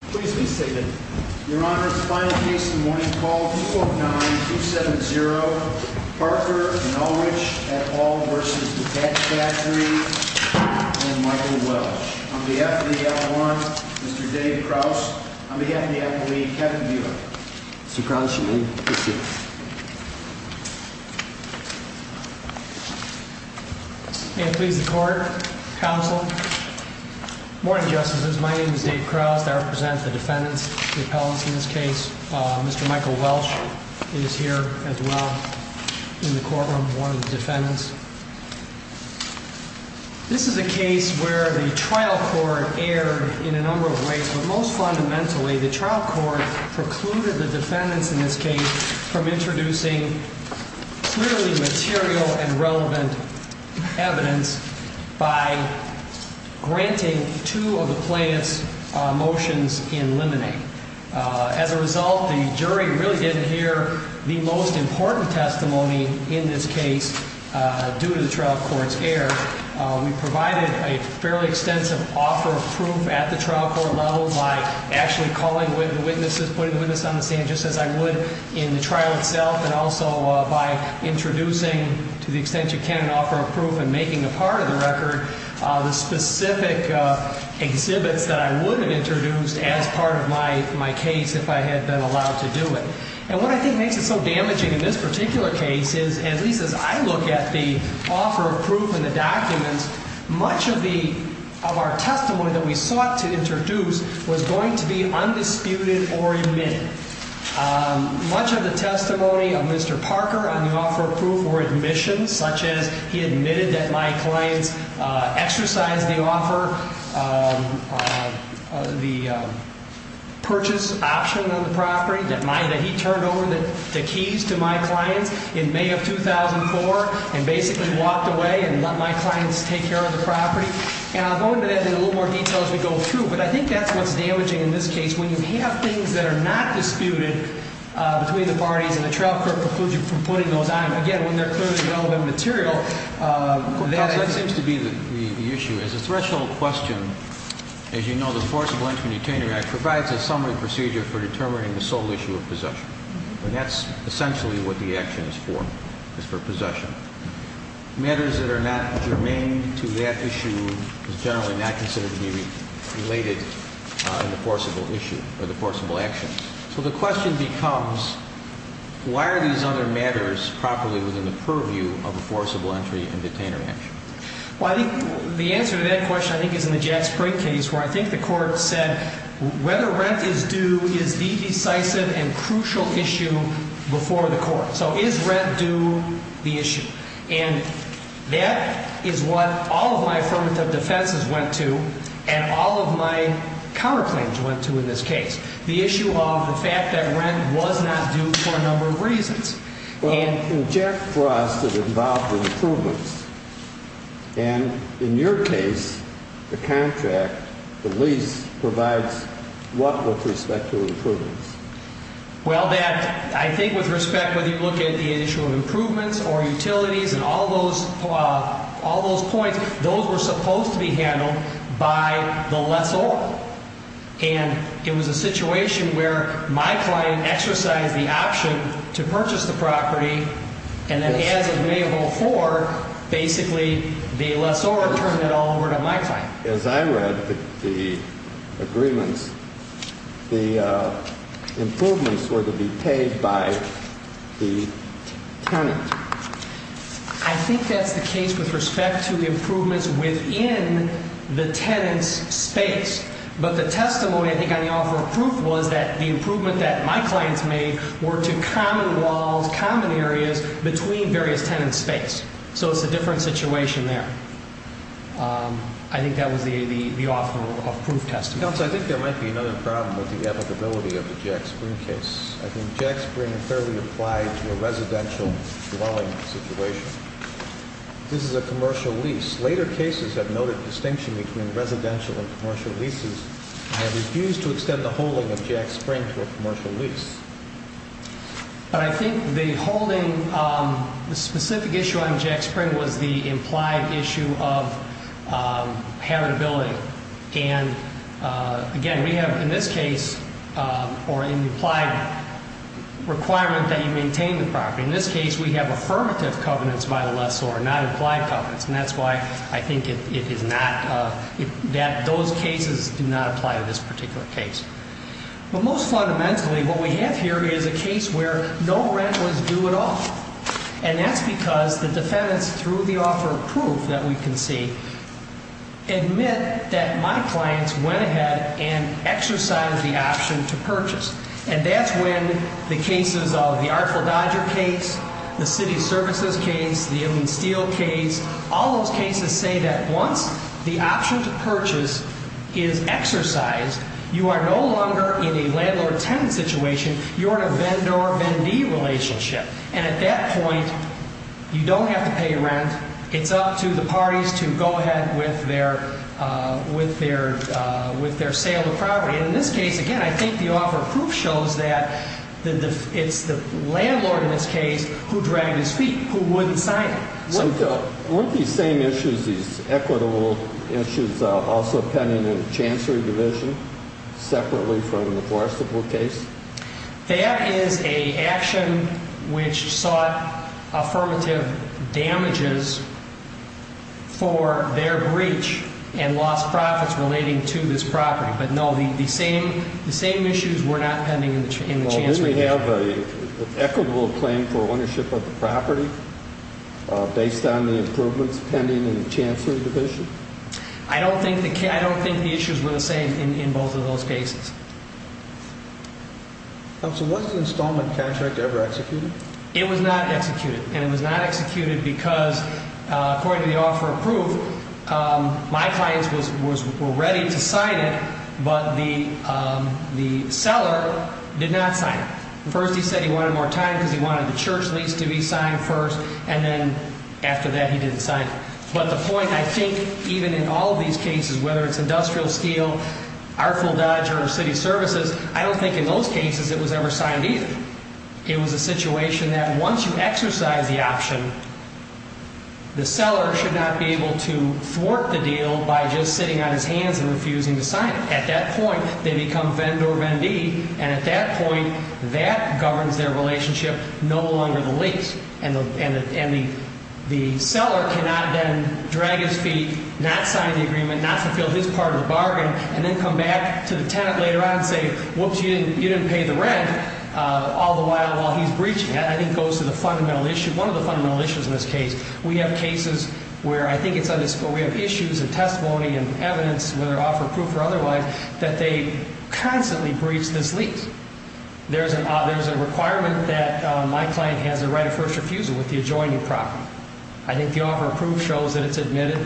Please be seated. Your Honor, it's a final case in the morning. Call 2-4-9-2-7-0, Parker and Ulrich et al. v. The Patch Factory and Michael Welch. On behalf of the L1, Mr. Dave Krause. On behalf of the athlete, Kevin Buick. Mr. Krause, you may proceed. And please, the court, counsel. Morning, justices. My name is Dave Krause. I represent the defendants, the appellants in this case. Mr. Michael Welch is here as well in the courtroom, one of the defendants. This is a case where the trial court erred in a number of ways, but most fundamentally, the trial court precluded the defendants in this case from introducing clearly material and relevant evidence by granting two of the plaintiff's motions in limine. As a result, the jury really didn't hear the most important testimony in this case due to the trial court's error. We provided a fairly extensive offer of proof at the trial court level by actually calling witnesses, putting witnesses on the stand just as I would in the trial itself, and also by introducing, to the extent you can, an offer of proof and making a part of the record. The specific exhibits that I would have introduced as part of my case if I had been allowed to do it. And what I think makes it so damaging in this particular case is, at least as I look at the offer of proof and the documents, much of the, of our testimony that we sought to introduce was going to be undisputed or admitted. Much of the testimony of Mr. Parker on the offer of proof were admissions, such as he admitted that my clients exercised the offer, the purchase option on the property that he turned over the keys to my clients in May of 2004 and basically walked away and let my clients take care of the property. And I'll go into that in a little more detail as we go through, but I think that's what's damaging in this case. When you have things that are not disputed between the parties and the trial court precludes you from putting those on. And again, when they're clearly relevant material, that seems to be the issue. As a threshold question, as you know, the Forcible Entry and Detainer Act provides a summary procedure for determining the sole issue of possession. And that's essentially what the action is for, is for possession. Matters that are not germane to that issue is generally not considered to be related in the forcible issue or the forcible actions. So the question becomes, why are these other matters properly within the purview of a forcible entry and detainer action? Well, the answer to that question, I think, is in the Jack Sprigg case, where I think the court said whether rent is due is the decisive and crucial issue before the court. So is rent due the issue? And that is what all of my affirmative defenses went to and all of my counterclaims went to in this case. The issue of the fact that rent was not due for a number of reasons. In Jack Frost, it involved improvements. And in your case, the contract, the lease, provides what with respect to improvements? Well, I think with respect, whether you look at the issue of improvements or utilities and all those points, those were supposed to be handled by the lessor. And it was a situation where my client exercised the option to purchase the property, and then as of May of 2004, basically the lessor turned it all over to my client. As I read the agreements, the improvements were to be paid by the tenant. I think that's the case with respect to the improvements within the tenant's space. But the testimony, I think, on the offer of proof was that the improvement that my clients made were to common walls, common areas between various tenants' space. So it's a different situation there. I think that was the offer of proof testimony. Counsel, I think there might be another problem with the applicability of the Jack Spring case. I think Jack Spring fairly applied to a residential dwelling situation. This is a commercial lease. Later cases have noted distinction between residential and commercial leases and have refused to extend the holding of Jack Spring to a commercial lease. But I think the holding, the specific issue on Jack Spring was the implied issue of habitability. And again, we have in this case, or in the implied requirement that you maintain the property, in this case we have affirmative covenants by the lessor, not implied covenants. And that's why I think it is not, that those cases do not apply to this particular case. But most fundamentally, what we have here is a case where no rent was due at all. And that's because the defendants, through the offer of proof that we can see, admit that my clients went ahead and exercised the option to purchase. And that's when the cases of the Artful Dodger case, the City Services case, the Ellen Steele case, all those cases say that once the option to purchase is exercised, you are no longer in a landlord-tenant situation. You're in a vendor-vendee relationship. And at that point, you don't have to pay rent. It's up to the parties to go ahead with their sale of property. And in this case, again, I think the offer of proof shows that it's the landlord in this case who dragged his feet, who wouldn't sign it. Weren't these same issues, these equitable issues, also pending in the Chancery Division, separately from the Forstable case? That is an action which sought affirmative damages for their breach and lost profits relating to this property. But no, the same issues were not pending in the Chancery Division. Do we have an equitable claim for ownership of the property based on the improvements pending in the Chancery Division? I don't think the issues were the same in both of those cases. Counsel, was the installment contract ever executed? It was not executed. And it was not executed because, according to the offer of proof, my clients were ready to sign it, but the seller did not sign it. First, he said he wanted more time because he wanted the church lease to be signed first, and then after that, he didn't sign it. But the point, I think, even in all of these cases, whether it's industrial steel, our full dodger, or city services, I don't think in those cases it was ever signed either. It was a situation that once you exercise the option, the seller should not be able to thwart the deal by just sitting on his hands and refusing to sign it. At that point, they become vendor-vendee, and at that point, that governs their relationship no longer the lease. And the seller cannot then drag his feet, not sign the agreement, not fulfill his part of the bargain, and then come back to the tenant later on and say, whoops, you didn't pay the rent, all the while while he's breaching it. I think it goes to the fundamental issue, one of the fundamental issues in this case. We have cases where I think it's undisclosed. We have issues and testimony and evidence, whether offer proof or otherwise, that they constantly breach this lease. There's a requirement that my client has the right of first refusal with the adjoining property. I think the offer of proof shows that it's admitted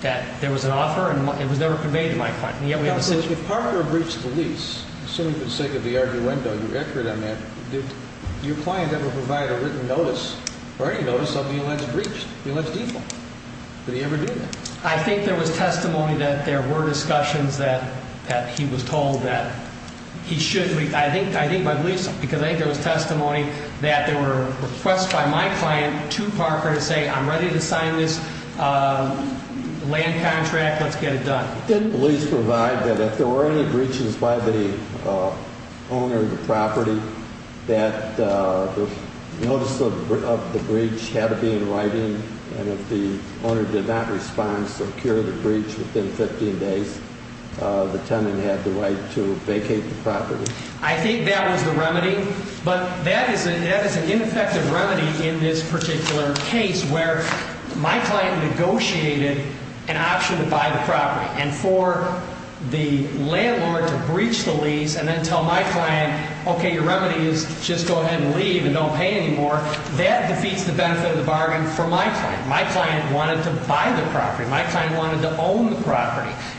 that there was an offer, and it was never conveyed to my client. If Parker breached the lease, assuming for the sake of the argumento, you're accurate on that, did your client ever provide a written notice or any notice of the alleged breach, the alleged default? Did he ever do that? I think there was testimony that there were discussions that he was told that he should. I think my belief is because I think there was testimony that there were requests by my client to Parker to say, I'm ready to sign this land contract. Let's get it done. Did the lease provide that if there were any breaches by the owner of the property, that the notice of the breach had to be in writing? And if the owner did not respond, secure the breach within 15 days, the tenant had the right to vacate the property? I think that was the remedy. But that is an ineffective remedy in this particular case where my client negotiated an option to buy the property. And for the landlord to breach the lease and then tell my client, okay, your remedy is just go ahead and leave and don't pay anymore, that defeats the benefit of the bargain for my client. My client wanted to buy the property.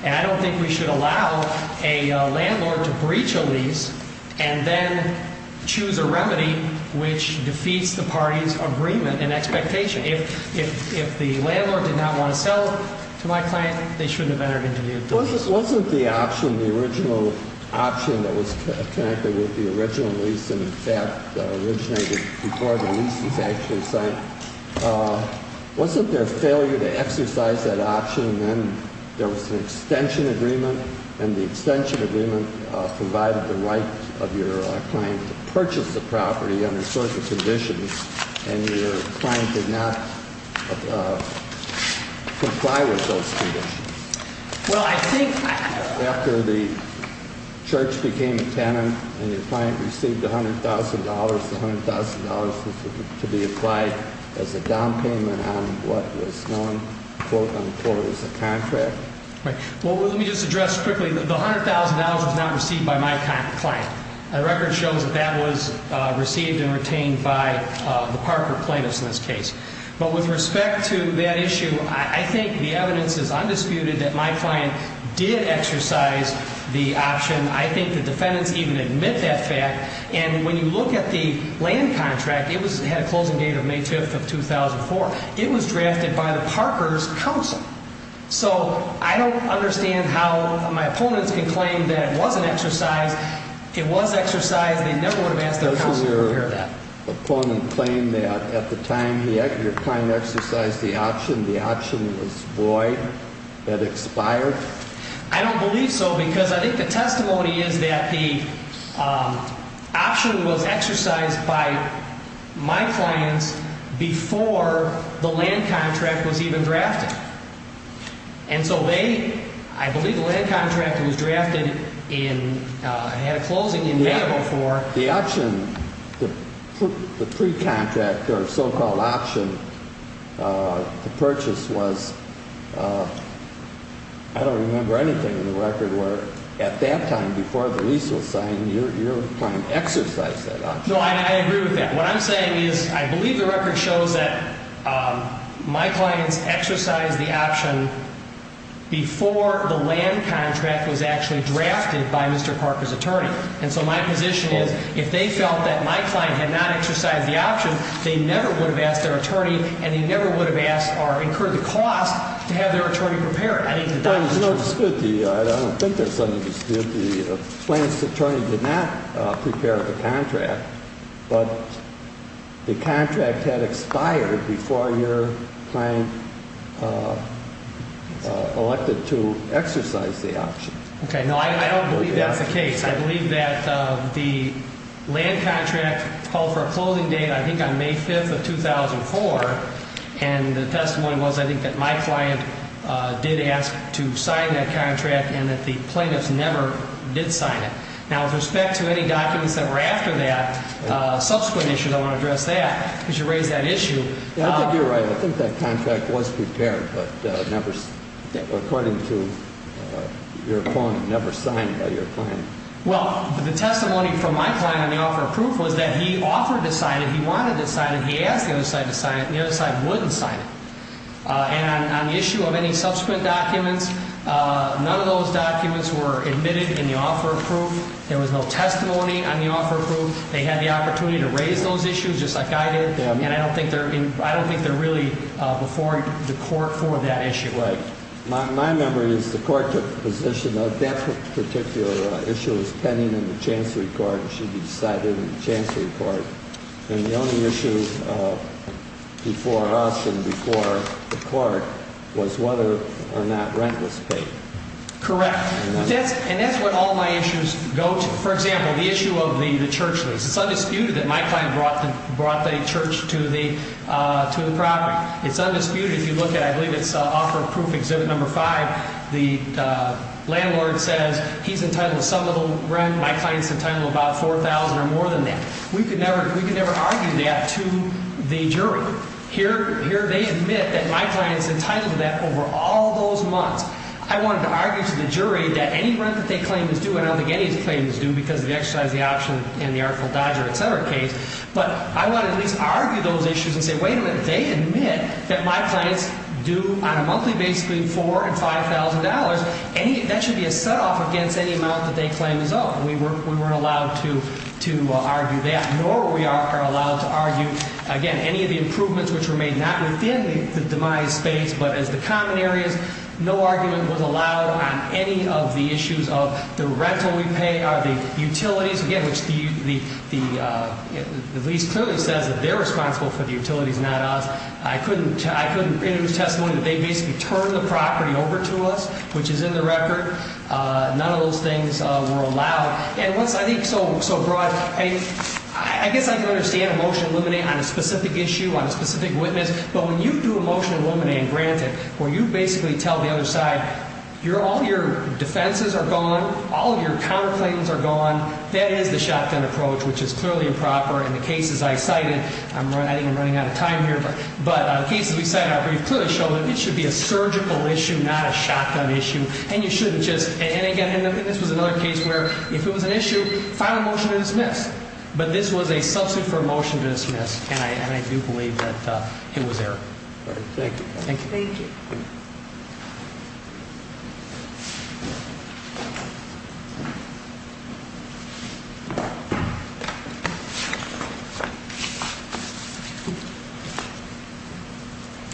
And I don't think we should allow a landlord to breach a lease and then choose a remedy which defeats the party's agreement and expectation. If the landlord did not want to sell to my client, they shouldn't have entered into the lease. Wasn't the option, the original option that was connected with the original lease and, in fact, originated before the lease was actually signed, wasn't there a failure to exercise that option? And then there was an extension agreement, and the extension agreement provided the right of your client to purchase the property under certain conditions. And your client did not comply with those conditions. Well, I think after the church became a tenant and your client received $100,000, the $100,000 was to be applied as a down payment on what was known, quote, unquote, as a contract. Right. Well, let me just address quickly, the $100,000 was not received by my client. The record shows that that was received and retained by the Parker plaintiffs in this case. But with respect to that issue, I think the evidence is undisputed that my client did exercise the option. I think the defendants even admit that fact. And when you look at the land contract, it had a closing date of May 5th of 2004. It was drafted by the Parker's counsel. So I don't understand how my opponents can claim that it wasn't exercised. It was exercised. They never would have asked their counsel to repair that. Did my opponent claim that at the time your client exercised the option, the option was void, had expired? I don't believe so because I think the testimony is that the option was exercised by my clients before the land contract was even drafted. And so they, I believe the land contract was drafted in, had a closing in May of 2004. The option, the pre-contract or so-called option, the purchase was, I don't remember anything in the record where at that time, before the lease was signed, your client exercised that option. No, I agree with that. What I'm saying is I believe the record shows that my clients exercised the option before the land contract was actually drafted by Mr. Parker's attorney. And so my position is if they felt that my client had not exercised the option, they never would have asked their attorney and they never would have asked or incurred the cost to have their attorney prepare it. I need the documentation. I don't think there's something to dispute the plaintiff's attorney did not prepare the contract, but the contract had expired before your client elected to exercise the option. Okay. No, I don't believe that's the case. I believe that the land contract called for a closing date, I think, on May 5th of 2004, and the testimony was, I think, that my client did ask to sign that contract and that the plaintiffs never did sign it. Now, with respect to any documents that were after that, subsequent issues, I want to address that because you raised that issue. I think you're right. I think that contract was prepared, but according to your point, never signed by your client. Well, the testimony from my client on the offer of proof was that he offered to sign it, he wanted to sign it, he asked the other side to sign it, and the other side wouldn't sign it. And on the issue of any subsequent documents, none of those documents were admitted in the offer of proof. There was no testimony on the offer of proof. They had the opportunity to raise those issues just like I did, and I don't think they're really before the court for that issue. Right. My memory is the court took the position that that particular issue was pending in the chancery court and should be decided in the chancery court, and the only issue before us and before the court was whether or not rent was paid. Correct. And that's what all my issues go to. For example, the issue of the church lease. It's undisputed that my client brought the church to the property. It's undisputed. If you look at, I believe it's offer of proof exhibit number five, the landlord says he's entitled to some of the rent, my client's entitled to about $4,000 or more than that. We could never argue that to the jury. Here they admit that my client's entitled to that over all those months. I wanted to argue to the jury that any rent that they claim is due, and I don't think any claim is due because of the exercise of the option in the Artful Dodger, et cetera, case, but I want to at least argue those issues and say, wait a minute, they admit that my client's due on a monthly basis $4,000 and $5,000. That should be a set-off against any amount that they claim is owed. We weren't allowed to argue that, nor we are allowed to argue, again, any of the improvements which were made not within the demise space but as the common areas. No argument was allowed on any of the issues of the rental we pay or the utilities, again, which the lease clearly says that they're responsible for the utilities, not us. I couldn't introduce testimony that they basically turned the property over to us, which is in the record. None of those things were allowed. And once I think so broad, I guess I can understand a motion to eliminate on a specific issue, on a specific witness, but when you do a motion to eliminate and grant it, where you basically tell the other side, all your defenses are gone, all your counterclaims are gone, that is the shotgun approach, which is clearly improper. In the cases I cited, I think I'm running out of time here, but the cases we cited, we clearly showed that it should be a surgical issue, not a shotgun issue, and you shouldn't just, and again, this was another case where if it was an issue, file a motion to dismiss, but this was a substitute for a motion to dismiss, and I do believe that it was error. Thank you. Thank you. Thank you.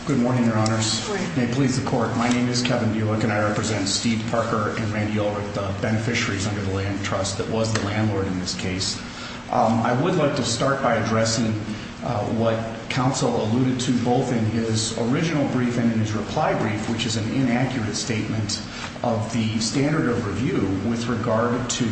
Good morning, Your Honors. Good morning. May it please the Court. My name is Kevin Buick, and I represent Steve Parker and Randy Ulrich, under the land trust that was the landlord in this case. I would like to start by addressing what counsel alluded to both in his original brief and in his reply brief, which is an inaccurate statement of the standard of review with regard to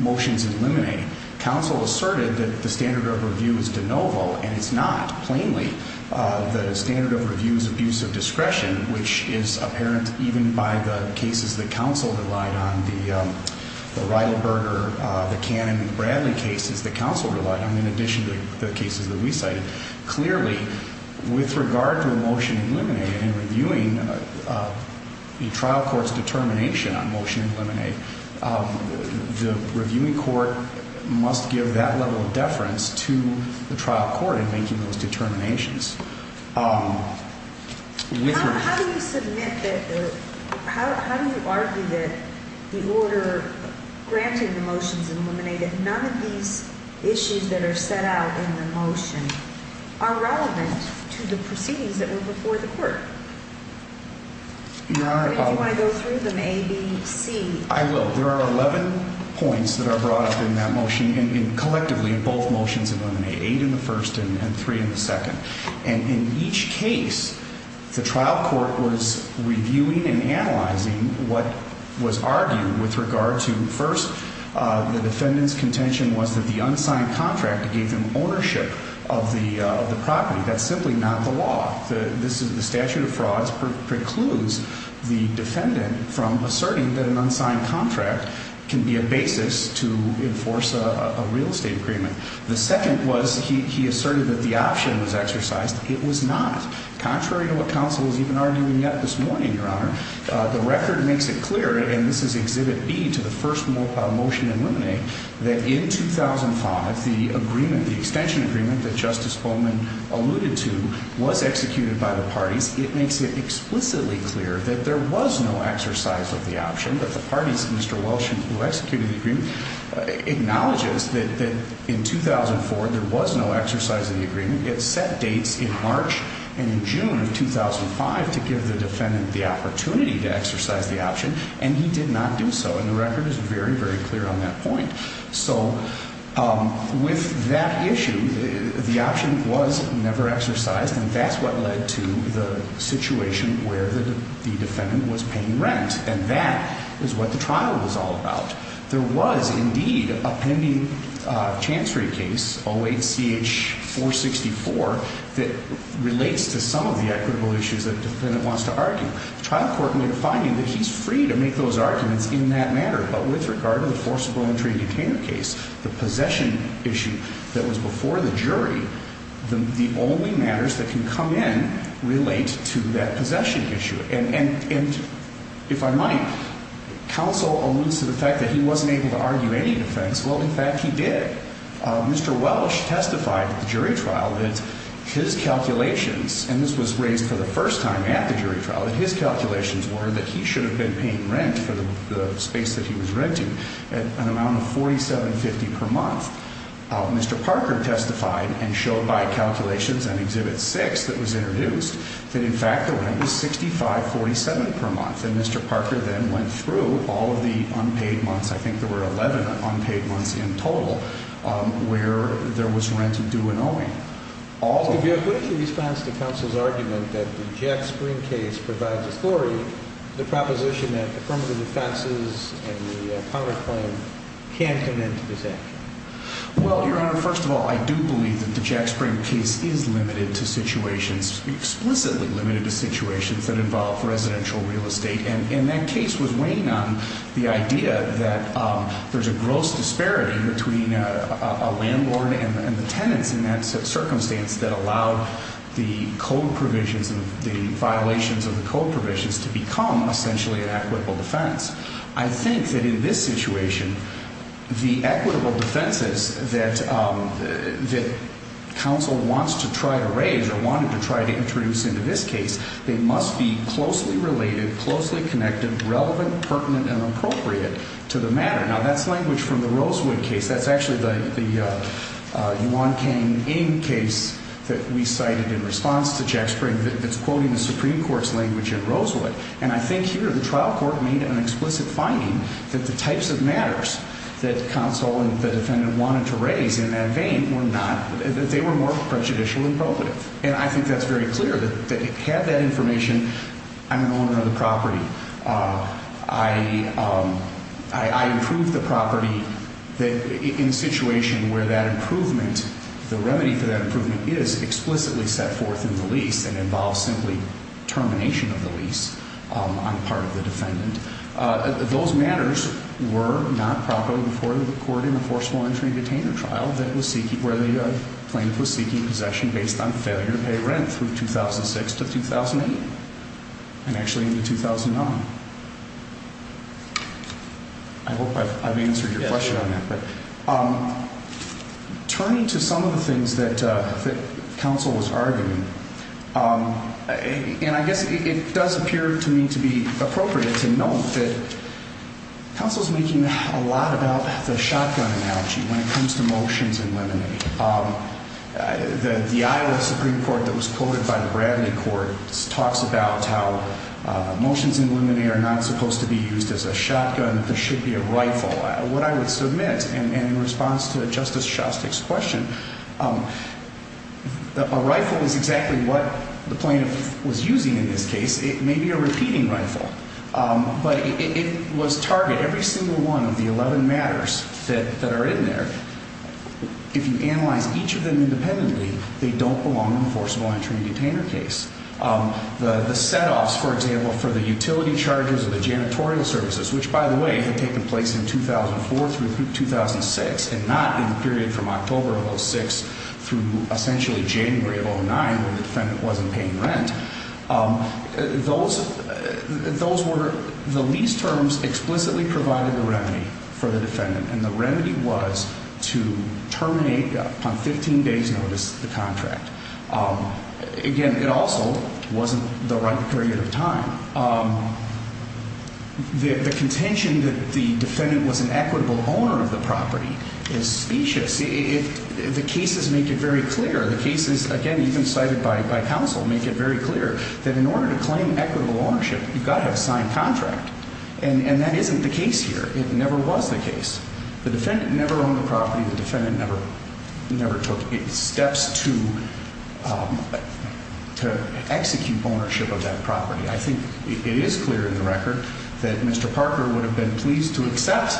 motions eliminating. Counsel asserted that the standard of review is de novo, and it's not, plainly. The standard of review is abuse of discretion, which is apparent even by the cases that counsel relied on, the Reidelberger, the Cannon-Bradley cases that counsel relied on, in addition to the cases that we cited. Clearly, with regard to a motion eliminated in reviewing a trial court's determination on motion eliminate, the reviewing court must give that level of deference to the trial court in making those determinations. How do you submit that, or how do you argue that the order granting the motions eliminated, none of these issues that are set out in the motion, are relevant to the proceedings that were before the court? Your Honor, I... Do you want to go through them, A, B, C? I will. There are 11 points that are brought up in that motion, and collectively in both motions eliminated, 8 in the first and 3 in the second. And in each case, the trial court was reviewing and analyzing what was argued with regard to, first, the defendant's contention was that the unsigned contract gave them ownership of the property. That's simply not the law. The statute of frauds precludes the defendant from asserting that an unsigned contract can be a basis to enforce a real estate agreement. The second was he asserted that the option was exercised. It was not, contrary to what counsel was even arguing yet this morning, Your Honor. The record makes it clear, and this is Exhibit B to the first motion eliminated, that in 2005, the agreement, the extension agreement that Justice Holman alluded to, was executed by the parties. It makes it explicitly clear that there was no exercise of the option, but the parties, Mr. Welsh, who executed the agreement, acknowledges that in 2004, there was no exercise of the agreement. It set dates in March and in June of 2005 to give the defendant the opportunity to exercise the option, and he did not do so, and the record is very, very clear on that point. So with that issue, the option was never exercised, and that's what led to the situation where the defendant was paying rent, and that is what the trial was all about. There was, indeed, a pending Chancery case, 08-CH-464, that relates to some of the equitable issues that the defendant wants to argue. The trial court made a finding that he's free to make those arguments in that matter, but with regard to the forcible entry in container case, the possession issue that was before the jury, the only matters that can come in relate to that possession issue, and if I might, counsel alludes to the fact that he wasn't able to argue any defense. Well, in fact, he did. Mr. Welsh testified at the jury trial that his calculations, and this was raised for the first time at the jury trial, his calculations were that he should have been paying rent for the space that he was renting at an amount of $47.50 per month. Mr. Parker testified and showed by calculations in Exhibit 6 that was introduced that, in fact, the rent was $65.47 per month, and Mr. Parker then went through all of the unpaid months. I think there were 11 unpaid months in total where there was rent due and owing. Could you quickly respond to counsel's argument that the Jack Spring case provides authority, the proposition that affirmative defenses and the counterclaim can't come into this action? Well, Your Honor, first of all, I do believe that the Jack Spring case is limited to situations, explicitly limited to situations that involve residential real estate, and that case was weighing on the idea that there's a gross disparity between a landlord and the tenants in that circumstance that allowed the code provisions, the violations of the code provisions to become essentially an equitable defense. I think that in this situation, the equitable defenses that counsel wants to try to raise or wanted to try to introduce into this case, they must be closely related, closely connected, relevant, pertinent, and appropriate to the matter. Now, that's language from the Rosewood case. That's actually the Yuan Kang Ng case that we cited in response to Jack Spring that's quoting the Supreme Court's language in Rosewood, and I think here the trial court made an explicit finding that the types of matters that counsel and the defendant wanted to raise in that vein were not, that they were more prejudicial and probative, and I think that's very clear that it had that information, I'm an owner of the property. I approved the property in a situation where that improvement, the remedy for that improvement is explicitly set forth in the lease and involves simply termination of the lease on part of the defendant. Those matters were not properly before the court in the forceful entry and detainment trial where the plaintiff was seeking possession based on failure to pay rent through 2006 to 2008, and actually into 2009. I hope I've answered your question on that. Turning to some of the things that counsel was arguing, and I guess it does appear to me to be appropriate to note that counsel's making a lot about the shotgun analogy when it comes to motions in limine. The Iowa Supreme Court that was quoted by the Bradley Court talks about how motions in limine are not supposed to be used as a shotgun, they should be a rifle. What I would submit in response to Justice Shostak's question, a rifle is exactly what the plaintiff was using in this case, it may be a repeating rifle, but it was targeted, every single one of the 11 matters that are in there, if you analyze each of them independently, they don't belong in the forcible entry and detainment case. The set-offs, for example, for the utility charges of the janitorial services, which by the way had taken place in 2004 through 2006 and not in the period from October of 2006 through essentially January of 2009 when the defendant wasn't paying rent, those were the lease terms explicitly provided the remedy for the defendant, and the remedy was to terminate upon 15 days' notice the contract. Again, it also wasn't the right period of time. The contention that the defendant was an equitable owner of the property is specious. The cases make it very clear. The cases, again, even cited by counsel, make it very clear that in order to claim equitable ownership, you've got to have signed contract, and that isn't the case here. It never was the case. The defendant never owned the property. The defendant never took steps to execute ownership of that property. I think it is clear in the record that Mr. Parker would have been pleased to accept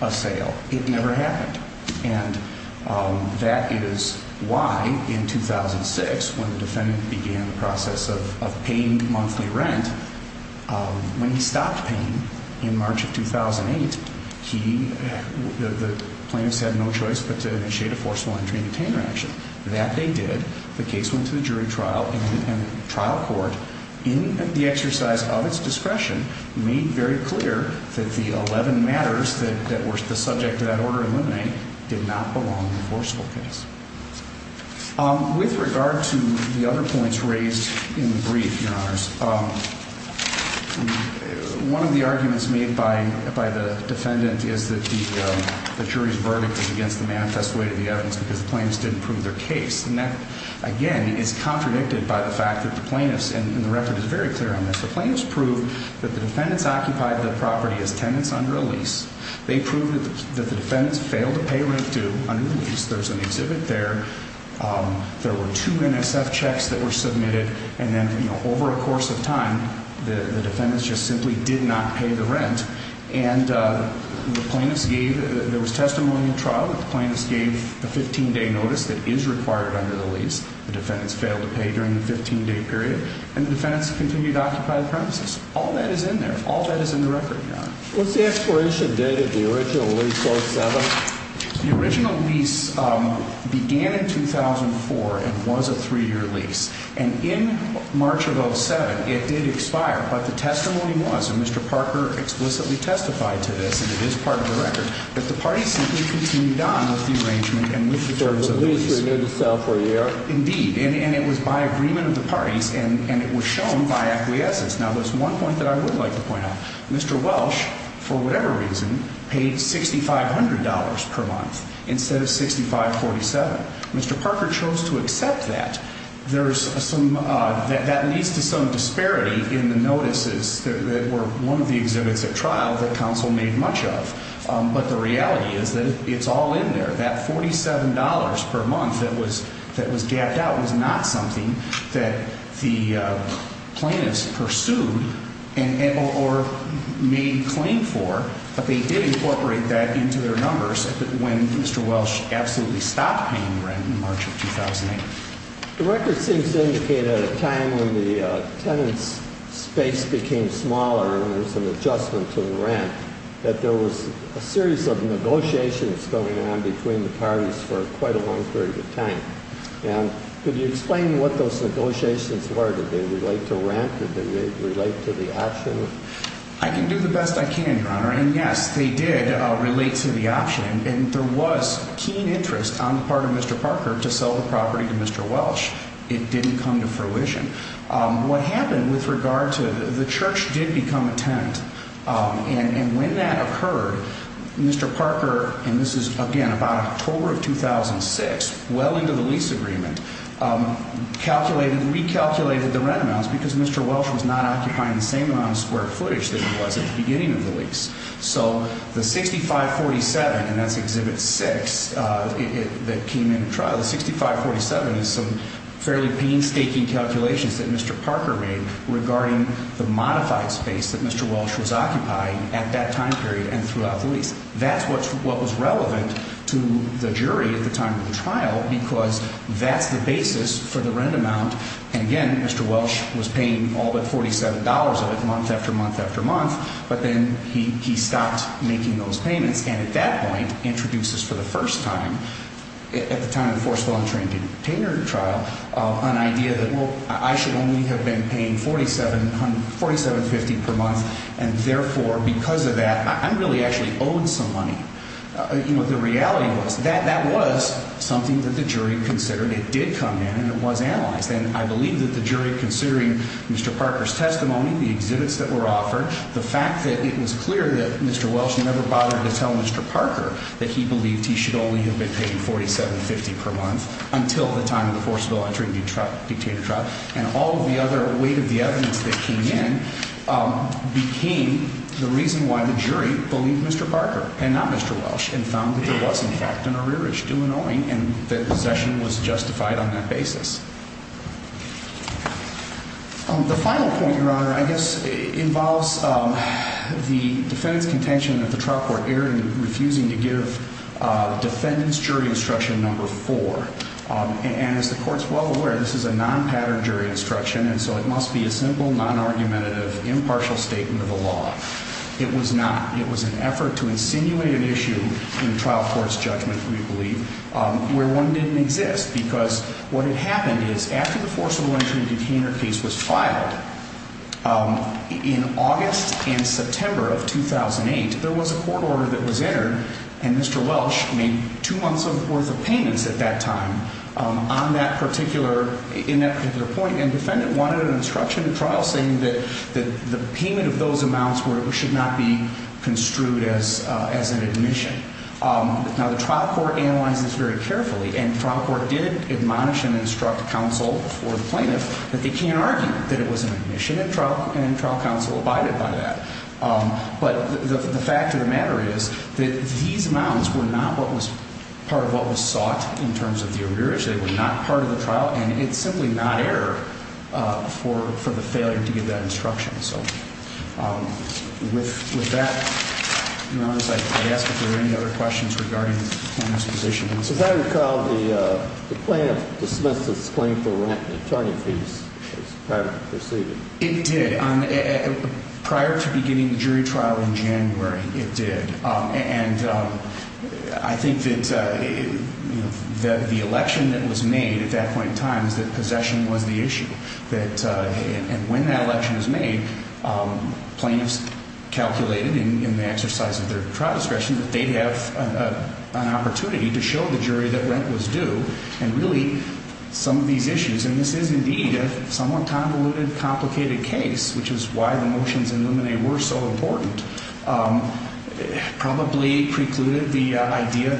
a sale. It never happened, and that is why in 2006, when the defendant began the process of paying monthly rent, when he stopped paying in March of 2008, the plaintiffs had no choice but to initiate a forceful entry and retainer action. That they did. The case went to the jury trial and trial court. In the exercise of its discretion, made very clear that the 11 matters that were the subject of that order to eliminate did not belong in the forceful case. With regard to the other points raised in the brief, Your Honors, one of the arguments made by the defendant is that the jury's verdict is against the manifest weight of the evidence because the plaintiffs didn't prove their case. And that, again, is contradicted by the fact that the plaintiffs, and the record is very clear on this, the plaintiffs proved that the defendants occupied the property as tenants under a lease. They proved that the defendants failed to pay rent due under the lease. There's an exhibit there. There were two NSF checks that were submitted. And then, you know, over a course of time, the defendants just simply did not pay the rent. And the plaintiffs gave, there was testimony in trial that the plaintiffs gave a 15-day notice that is required under the lease. The defendants failed to pay during the 15-day period. And the defendants continued to occupy the premises. All that is in there. All that is in the record, Your Honor. What's the expiration date of the original lease, 07? The original lease began in 2004 and was a three-year lease. And in March of 07, it did expire. But the testimony was, and Mr. Parker explicitly testified to this, and it is part of the record, that the parties simply continued on with the arrangement and with the terms of the lease. So the lease was going to sell for a year? Indeed. And it was by agreement of the parties. And it was shown by acquiescence. Now, there's one point that I would like to point out. Mr. Welsh, for whatever reason, paid $6,500 per month instead of $6,547. Mr. Parker chose to accept that. That leads to some disparity in the notices that were one of the exhibits at trial that counsel made much of. But the reality is that it's all in there. That $47 per month that was gapped out was not something that the plaintiffs pursued or made claim for. But they did incorporate that into their numbers when Mr. Welsh absolutely stopped paying the rent in March of 2008. The record seems to indicate at a time when the tenant's space became smaller and there was an adjustment to the rent, that there was a series of negotiations going on between the parties for quite a long period of time. And could you explain what those negotiations were? Did they relate to rent? Did they relate to the option? I can do the best I can, Your Honor. And, yes, they did relate to the option. And there was keen interest on the part of Mr. Parker to sell the property to Mr. Welsh. It didn't come to fruition. What happened with regard to the church did become a tenant. And when that occurred, Mr. Parker, and this is, again, about October of 2006, well into the lease agreement, recalculated the rent amounts because Mr. Welsh was not occupying the same amount of square footage that he was at the beginning of the lease. So the 6547, and that's Exhibit 6 that came into trial, the 6547 is some fairly painstaking calculations that Mr. Parker made regarding the modified space that Mr. Welsh was occupying at that time period and throughout the lease. That's what was relevant to the jury at the time of the trial because that's the basis for the rent amount. And, again, Mr. Welsh was paying all but $47 of it month after month after month. But then he stopped making those payments and, at that point, introduces for the first time, at the time of the forcible unattainment trial, an idea that, well, I should only have been paying $4,750 per month. And, therefore, because of that, I really actually owed some money. You know, the reality was that that was something that the jury considered. It did come in and it was analyzed. And I believe that the jury, considering Mr. Parker's testimony, the exhibits that were offered, the fact that it was clear that Mr. Welsh never bothered to tell Mr. Parker that he believed he should only have been paying $4,750 per month until the time of the forcible unattainment trial and all of the other weight of the evidence that came in became the reason why the jury believed Mr. Parker and not Mr. Welsh and found that there was, in fact, an arrearage due and owing and that possession was justified on that basis. The final point, Your Honor, I guess, involves the defendant's contention that the trial court erred in refusing to give defendant's jury instruction number four. And as the court's well aware, this is a non-pattern jury instruction, and so it must be a simple, non-argumentative, impartial statement of the law. It was not. It was an effort to insinuate an issue in trial court's judgment, we believe, where one didn't exist because what had happened is after the forcible entry and detainer case was filed, in August and September of 2008, there was a court order that was entered and Mr. Welsh made two months' worth of payments at that time on that particular, in that particular point, and the defendant wanted an instruction in trial saying that the payment of those amounts should not be construed as an admission. Now, the trial court analyzed this very carefully, and the trial court did admonish and instruct counsel for the plaintiff that they can't argue that it was an admission, and trial counsel abided by that. But the fact of the matter is that these amounts were not part of what was sought in terms of the arrears. They were not part of the trial, and it's simply not error for the failure to give that instruction. So with that, Your Honor, I'd ask if there are any other questions regarding the plaintiff's position. As I recall, the plaintiff dismissed his claim for rent and attorney fees as private proceedings. It did. Prior to beginning the jury trial in January, it did. And I think that the election that was made at that point in time is that possession was the issue, and when that election is made, plaintiffs calculated in the exercise of their trial discretion that they'd have an opportunity to show the jury that rent was due. And really, some of these issues, and this is indeed a somewhat convoluted, complicated case, which is why the motions in Luminae were so important, probably precluded the idea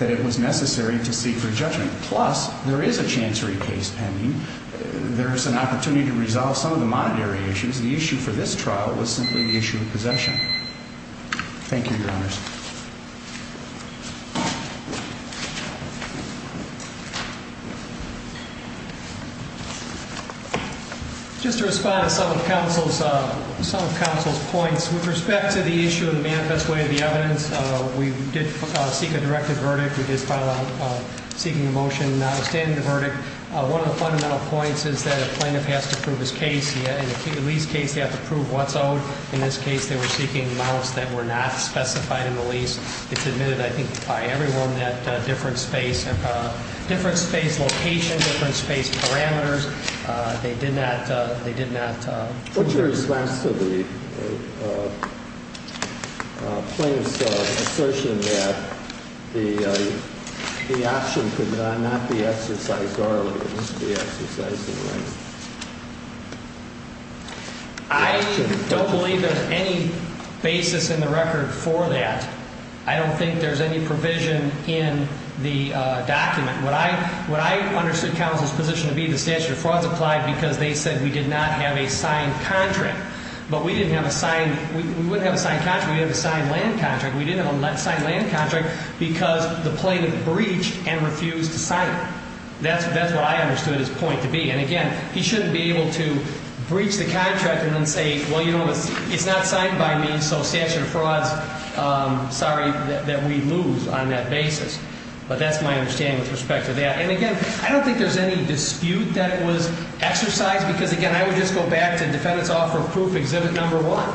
that it was necessary to seek re-judgment. Plus, there is a chancery case pending. There's an opportunity to resolve some of the monetary issues. The issue for this trial was simply the issue of possession. Thank you, Your Honors. Just to respond to some of counsel's points. With respect to the issue of the manifest way of the evidence, we did seek a directive verdict. We did file out seeking a motion. Standing the verdict, one of the fundamental points is that a plaintiff has to prove his case. In the least case, they have to prove what's owed. In this case, they were seeking amounts that were not specified in the lease. It's admitted, I think, by everyone that different space location, different space parameters, they did not. What's your response to the plaintiff's assertion that the option could not be exercised or at least be exercised in length? I don't believe there's any basis in the record for that. I don't think there's any provision in the document. What I understood counsel's position to be, the statute of frauds applied because they said we did not have a signed contract. But we didn't have a signed, we wouldn't have a signed contract, we would have a signed land contract. We didn't have a signed land contract because the plaintiff breached and refused to sign it. That's what I understood his point to be. And, again, he shouldn't be able to breach the contract and then say, well, you know, it's not signed by me, so statute of frauds, sorry that we lose on that basis. But that's my understanding with respect to that. And, again, I don't think there's any dispute that it was exercised because, again, I would just go back to defendant's offer of proof exhibit number one.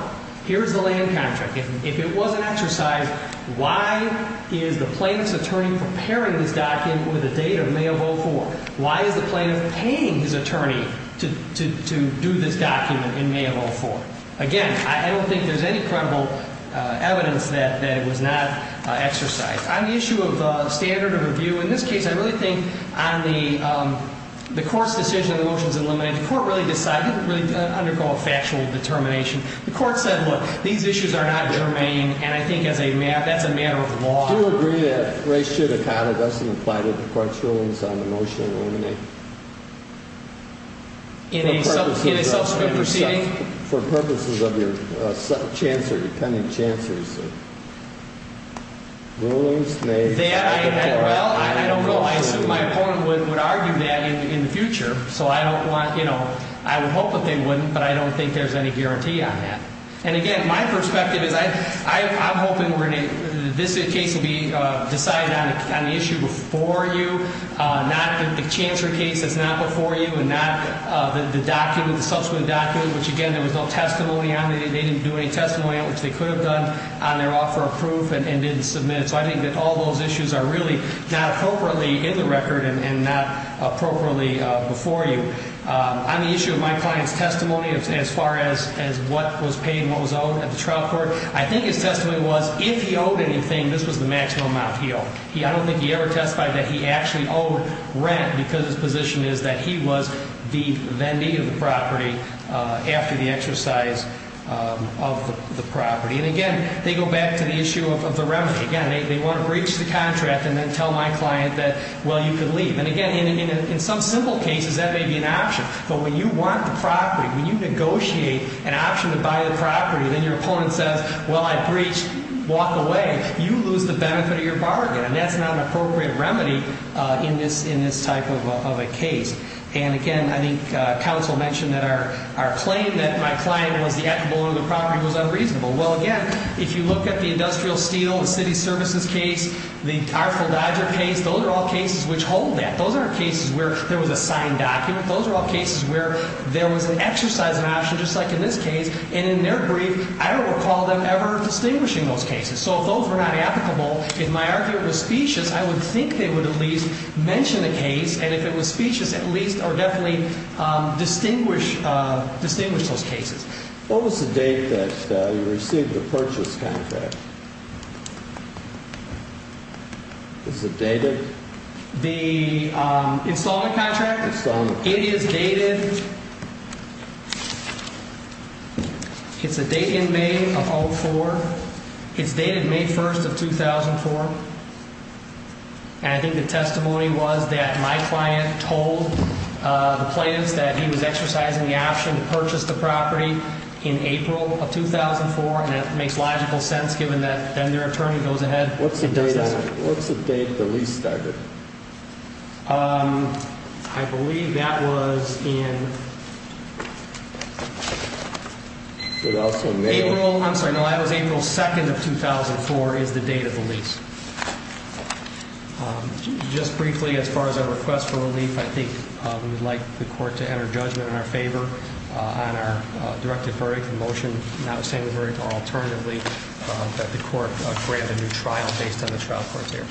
Here's the land contract. If it wasn't exercised, why is the plaintiff's attorney preparing this document with a date of May of 04? Why is the plaintiff paying his attorney to do this document in May of 04? Again, I don't think there's any credible evidence that it was not exercised. On the issue of standard of review, in this case, I really think on the court's decision, the motion is eliminated. The court really decided, didn't really undergo a factual determination. The court said, look, these issues are not germane, and I think that's a matter of law. I do agree that ratio decada doesn't apply to the court's rulings on the motion eliminated. In a subsequent proceeding? For purposes of your chancer, dependent chancers. Well, I don't know. I assume my opponent would argue that in the future, so I don't want, you know, I would hope that they wouldn't, but I don't think there's any guarantee on that. And, again, my perspective is I'm hoping this case will be decided on the issue before you, not the chancer case that's not before you, and not the document, the subsequent document, which, again, there was no testimony on it. They didn't do any testimony on it, which they could have done on their offer of proof and didn't submit it. So I think that all those issues are really not appropriately in the record and not appropriately before you. On the issue of my client's testimony as far as what was paid and what was owed at the trial court, I think his testimony was if he owed anything, this was the maximum amount he owed. I don't think he ever testified that he actually owed rent because his position is that he was the vendee of the property after the exercise of the property. And, again, they go back to the issue of the remedy. Again, they want to breach the contract and then tell my client that, well, you could leave. And, again, in some simple cases, that may be an option. But when you want the property, when you negotiate an option to buy the property, then your opponent says, well, I breach, walk away, you lose the benefit of your bargain. And that's not an appropriate remedy in this type of a case. And, again, I think counsel mentioned that our claim that my client was the equitable owner of the property was unreasonable. Well, again, if you look at the industrial steel, the city services case, the powerful Dodger case, those are all cases which hold that. Those are cases where there was a signed document. Those are all cases where there was an exercise of an option, just like in this case. And in their brief, I don't recall them ever distinguishing those cases. So if those were not applicable, if my argument was specious, I would think they would at least mention the case. And if it was specious, at least or definitely distinguish those cases. What was the date that you received the purchase contract? Is it dated? The installment contract? It is dated. It's a date in May of 2004. It's dated May 1st of 2004. And I think the testimony was that my client told the plaintiffs that he was exercising the option to purchase the property in April of 2004. And that makes logical sense, given that then their attorney goes ahead and does this. What's the date the lease started? I believe that was in April. I'm sorry, no, that was April 2nd of 2004 is the date of the lease. Just briefly, as far as our request for relief, I think we would like the court to enter judgment in our favor on our directed verdict in motion. Notwithstanding the verdict, or alternatively, that the court grant a new trial based on the trial court there.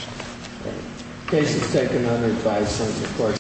The case is taken unadvised.